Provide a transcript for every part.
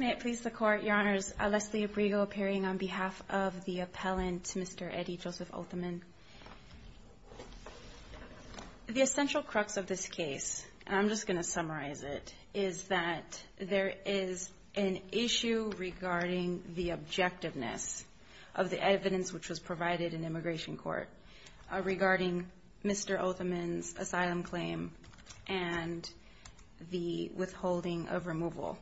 May it please the Court, Your Honors, Leslie Abrigo appearing on behalf of the appellant, Mr. Eddie Joseph Othman. The essential crux of this case, and I'm just going to summarize it, is that there is an issue regarding the objectiveness of the evidence which was provided in immigration court regarding Mr. Othman's asylum claim and the withholding of removal.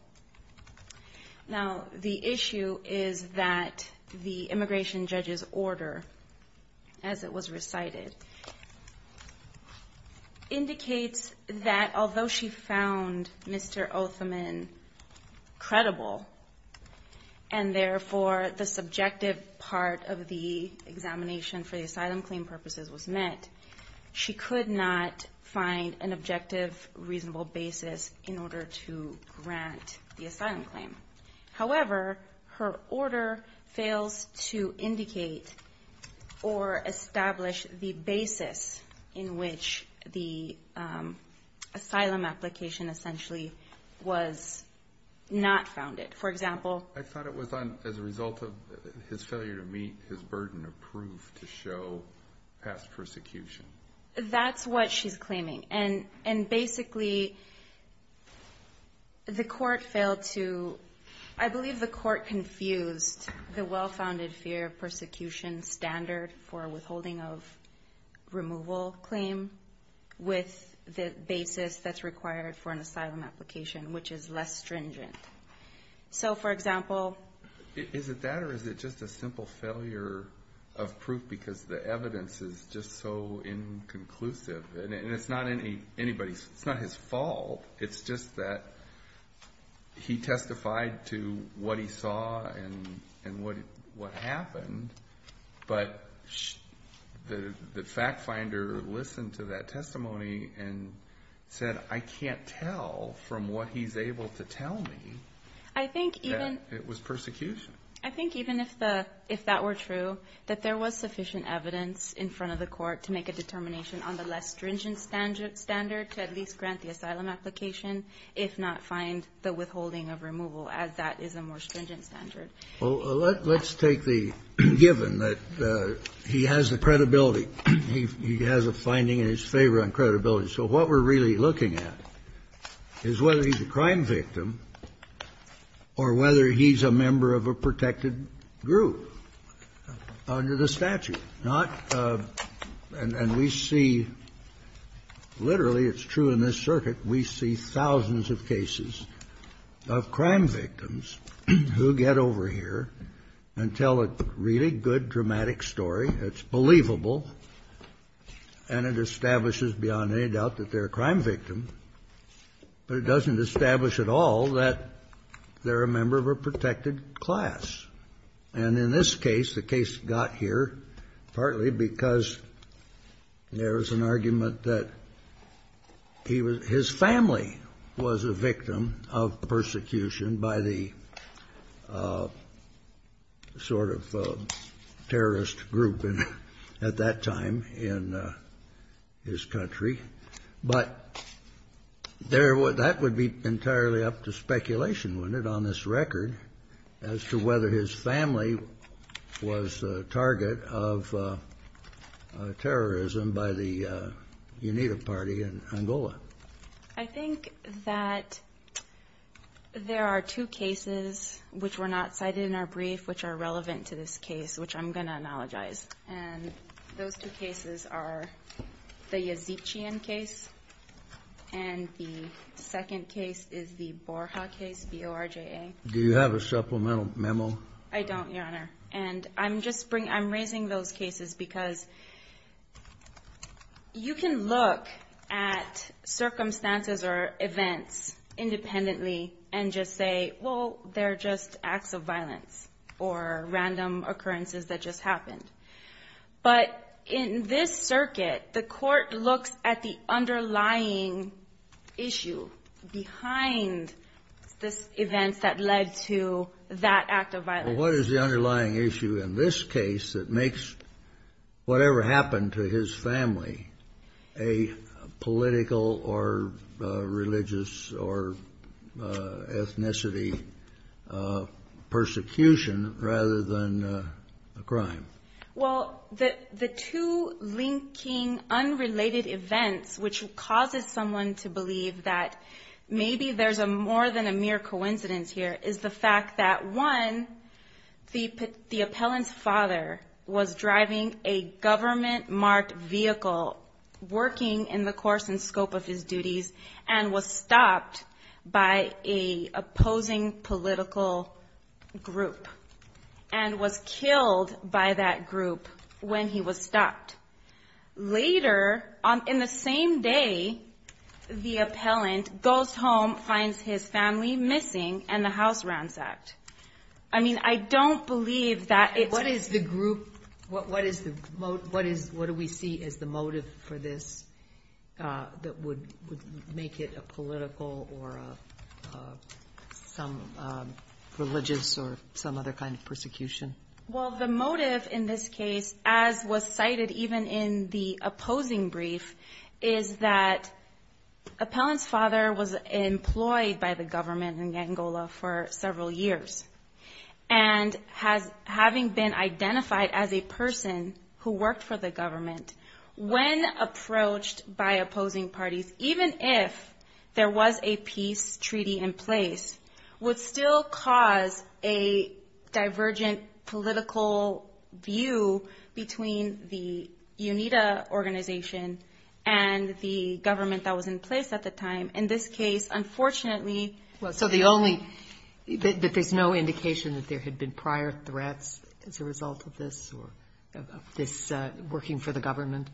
Now, the issue is that the immigration judge's order, as it was recited, indicates that although she found Mr. Othman credible, and therefore the subjective part of the examination for the asylum claim purposes was met, she could not find an objective, reasonable basis in which to indict the asylum claim. However, her order fails to indicate or establish the basis in which the asylum application essentially was not founded. For example... I thought it was as a result of his failure to meet his burden of proof to show past persecution. That's what she's claiming. And basically, the court failed to... I believe the court confused the well-founded fear of persecution standard for withholding of removal claim with the basis that's required for an asylum application, which is less stringent. So, for example... Is it that or is it just a simple failure of proof because the evidence is just so inconclusive? And it's not anybody's... It's not his fault. It's just that he testified to what he saw and what happened, but the fact finder listened to that testimony and said, I can't tell from what he's able to tell me... I think even... It was persecution. I think even if that were true, that there was sufficient evidence in front of the court to make a determination on the less stringent standard to at least grant the asylum application, if not find the withholding of removal, as that is a more stringent standard. Well, let's take the given that he has the credibility. He has a finding in his favor on credibility. So what we're really looking at is whether he's a crime victim or whether he's a member of a protected group under the statute, not... And we see literally, it's true in this circuit, we see thousands of cases of crime victims who get over here and tell a really good, dramatic story that's believable and it establishes beyond any doubt that they're a crime victim, but it doesn't establish at all that they're a member of a protected class. And in this case, the case got here partly because there was an argument that he was his family was a victim of persecution by the sort of terrorist group at that time in his country. But that would be entirely up to speculation, wouldn't it, on this record, as to whether his family was a target of terrorism by the UNITA party in Angola? I think that there are two cases which were not cited in our brief which are relevant to this case, which I'm going to analogize. And those two cases are the Yazikian case and the second case is the Borja case, B-O-R-J-A. Do you have a supplemental memo? I don't, Your Honor. And I'm raising those cases because you can look at circumstances or events independently and just say, well, they're just acts of violence or random occurrences that just happened. But in this circuit, the court looks at the underlying issue behind the events that led to that act of violence. Well, what is the underlying issue in this case that makes whatever happened to his family a political or religious or ethnicity persecution rather than a crime? Well, the two linking unrelated events which causes someone to believe that maybe there's more than a mere coincidence here is the fact that, one, the appellant's father was driving a government-marked vehicle working in the course and scope of his duties and was stopped by a opposing political group and was killed by that group when he was stopped. Later, in the same day, the appellant goes home, finds his family missing, and the house ransacked. I mean, I don't believe that it's... What do we see as the motive for this that would make it a political or some religious or some other kind of persecution? Well, the motive in this case, as was cited even in the opposing brief, is that appellant's father was employed by the government in Angola for several years and, having been identified as a person who worked for the government, when approached by opposing parties, even if there was a peace treaty in place, would still cause a divergent political view between the UNITA organization and the government that was in place at the time. In this case, unfortunately... So the only... That there's no indication that there had been prior threats as a result of this or of this working for the government?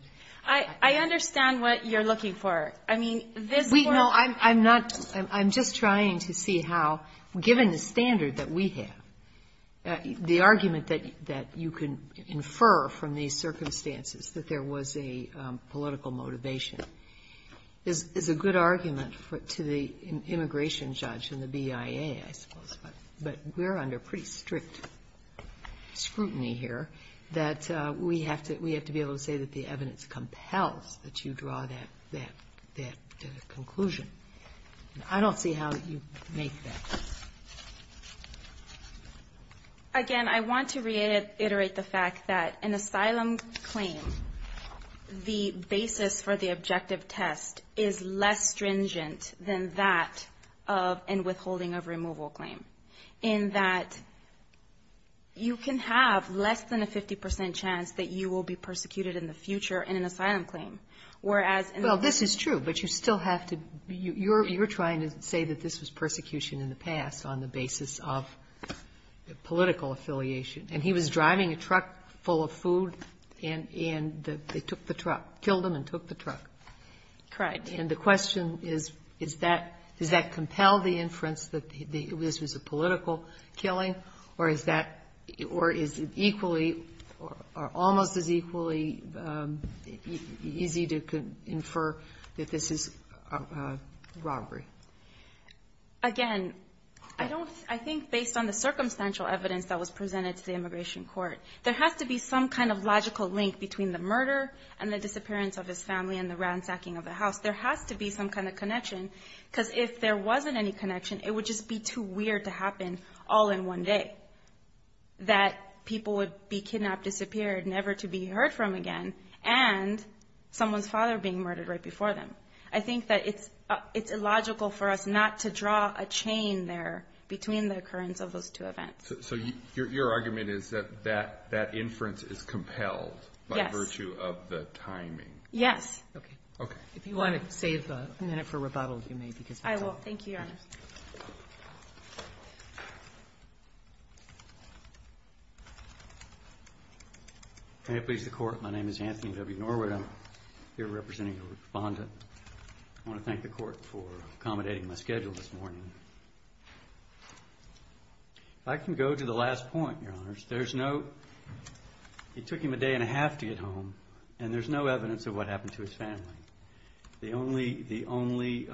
I understand what you're looking for. I mean, this... No, I'm not... I'm just trying to see how, given the standard that we have, the argument that you can infer from these circumstances that there was a political motivation is a good argument to the immigration judge and the BIA, I suppose, but we're under pretty strict scrutiny here, that we have to be able to say that the evidence compels that you draw that conclusion. I don't see how you make that. Again, I want to reiterate the fact that an asylum claim, the basis for the objective test, is less stringent than that of an withholding of removal claim, in that you can have less than a 50 percent chance that you will be persecuted in the future in an asylum claim, whereas... Well, this is true, but you still have to... You're trying to say that this was persecution in the past on the basis of political affiliation. And he was driving a truck full of food, and they took the truck, killed him and took the truck. Correct. And the question is, is that, does that compel the inference that this was a political killing, or is that, or is it equally, or almost as equally easy to infer that this is a robbery? Again, I don't, I think based on the circumstantial evidence that was presented to the immigration office, there has to be some kind of connection. Because if there wasn't any connection, it would just be too weird to happen all in one day. That people would be kidnapped, disappeared, never to be heard from again, and someone's father being murdered right before them. I think that it's illogical for us not to draw a chain there between the occurrence of those two events. So your argument is that that inference is compelled by virtue of the timing. Yes. Okay. If you want to save a minute for rebuttal, you may. I will. Thank you, Your Honor. May it please the Court, my name is Anthony W. Norwood. I'm here representing the Respondent. I want to thank the Court for accommodating my schedule this morning. If I can go to the last point, Your Honors, there's no, it took him a day and a half to get home, and there's no evidence of any of what happened to his family. The only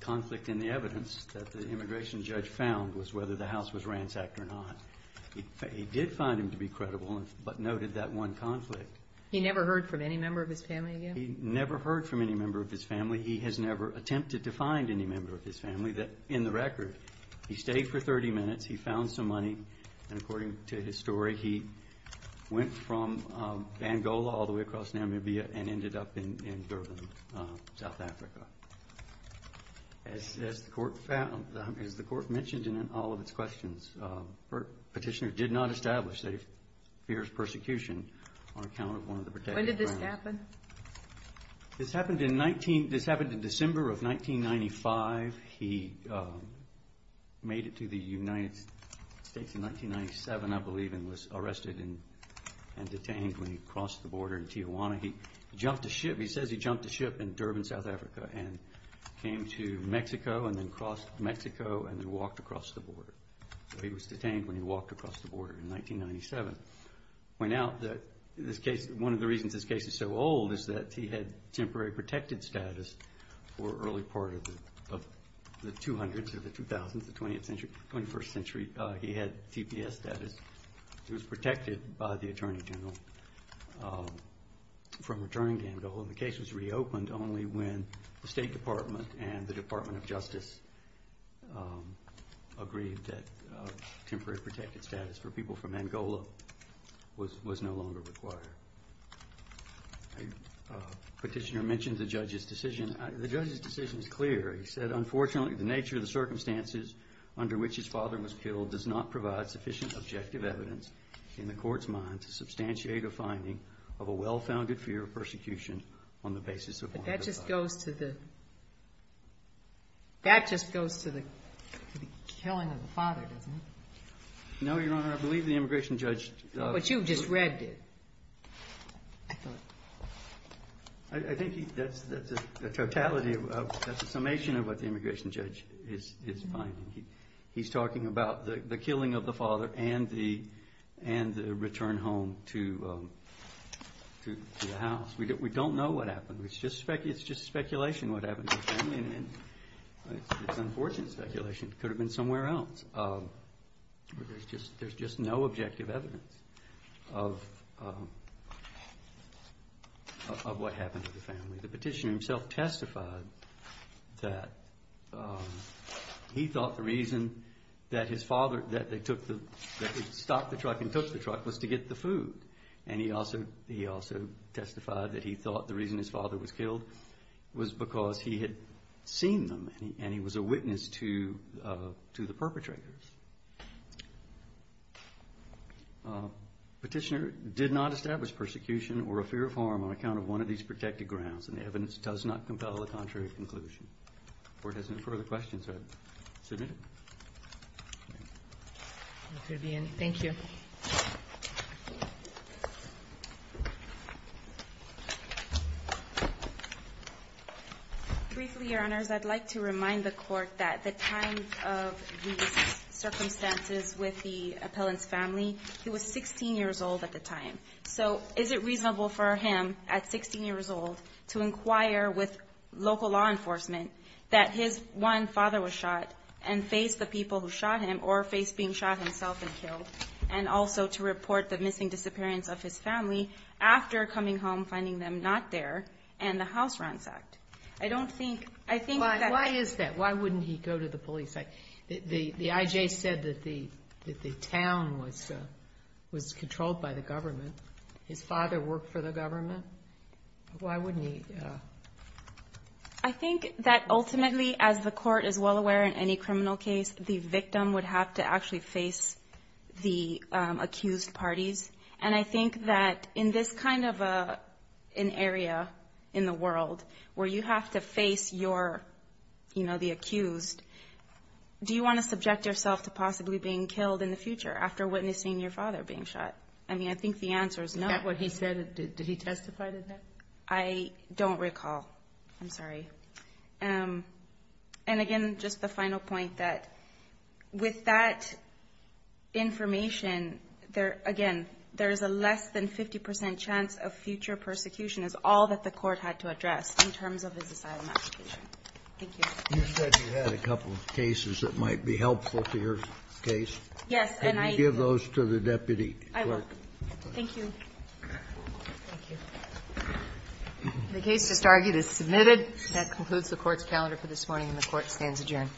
conflict in the evidence that the immigration judge found was whether the house was ransacked or not. He did find him to be credible, but noted that one conflict. He never heard from any member of his family again? He never heard from any member of his family. He has never attempted to find any member of his family. In the record, he stayed for 30 minutes, he found some money, and according to his story, he went from Bangola all the way across Namibia and ended up in Durban, South Africa. As the Court found, as the Court mentioned in all of its questions, the petitioner did not establish that he fears persecution on account of one of the protected grounds. When did this happen? This happened in December of 1995. He made it to the United States in 1997, I believe, and was arrested. He was arrested and detained when he crossed the border in Tijuana. He jumped a ship, he says he jumped a ship in Durban, South Africa, and came to Mexico, and then crossed Mexico, and then walked across the border. He was detained when he walked across the border in 1997. One of the reasons this case is so old is that he had temporary protected status for early part of the 200s or the 2000s, the 21st century. He had TPS status. He was protected by the Attorney General from returning to Angola. The case was reopened only when the State Department and the Department of Justice agreed that temporary protected status for people from Angola was no longer required. The petitioner mentioned the judge's decision. The judge's decision is clear. He said, unfortunately, the nature of the circumstances under which his father was killed does not provide sufficient objective evidence in the court's mind to substantiate a finding of a well-founded fear of persecution on the basis of one of the five. But that just goes to the killing of the father, doesn't it? No, Your Honor, I believe the immigration judge... He's talking about the killing of the father and the return home to the house. We don't know what happened. It's just speculation what happened to the family. It's unfortunate speculation. It could have been somewhere else. There's just no objective evidence of what happened to the family. The petitioner himself testified that he thought the reason that they stopped the truck and took the truck was to get the food. And he also testified that he thought the reason his father was killed was because he had seen them and he was a witness to the perpetrators. Petitioner did not establish persecution or a fear of harm on account of one of these protected grounds, and the evidence does not compel a contrary conclusion. If the Court has no further questions, I submit it. Thank you. Briefly, Your Honors, I'd like to remind the Court that at the time of these circumstances with the appellant's family, he was 16 years old at the time. So is it reasonable for him, at 16 years old, to inquire with local law enforcement that his one father was shot and face the people who shot him or face being shot himself and killed? And also to report the missing disappearance of his family after coming home, finding them not there, and the house ransacked? Why is that? Why wouldn't he go to the police? The I.J. said that the town was controlled by the government. His father worked for the government. Why wouldn't he? I think that ultimately, as the Court is well aware in any criminal case, the victim would have to actually face the police. And I think that in this kind of an area in the world where you have to face your, you know, the accused, do you want to subject yourself to possibly being killed in the future after witnessing your father being shot? I mean, I think the answer is no. Is that what he said? Did he testify to that? I don't recall. I'm sorry. I think that, again, there is a less than 50 percent chance of future persecution is all that the Court had to address in terms of his asylum application. Thank you. You said you had a couple of cases that might be helpful to your case. Yes, and I ---- Thank you.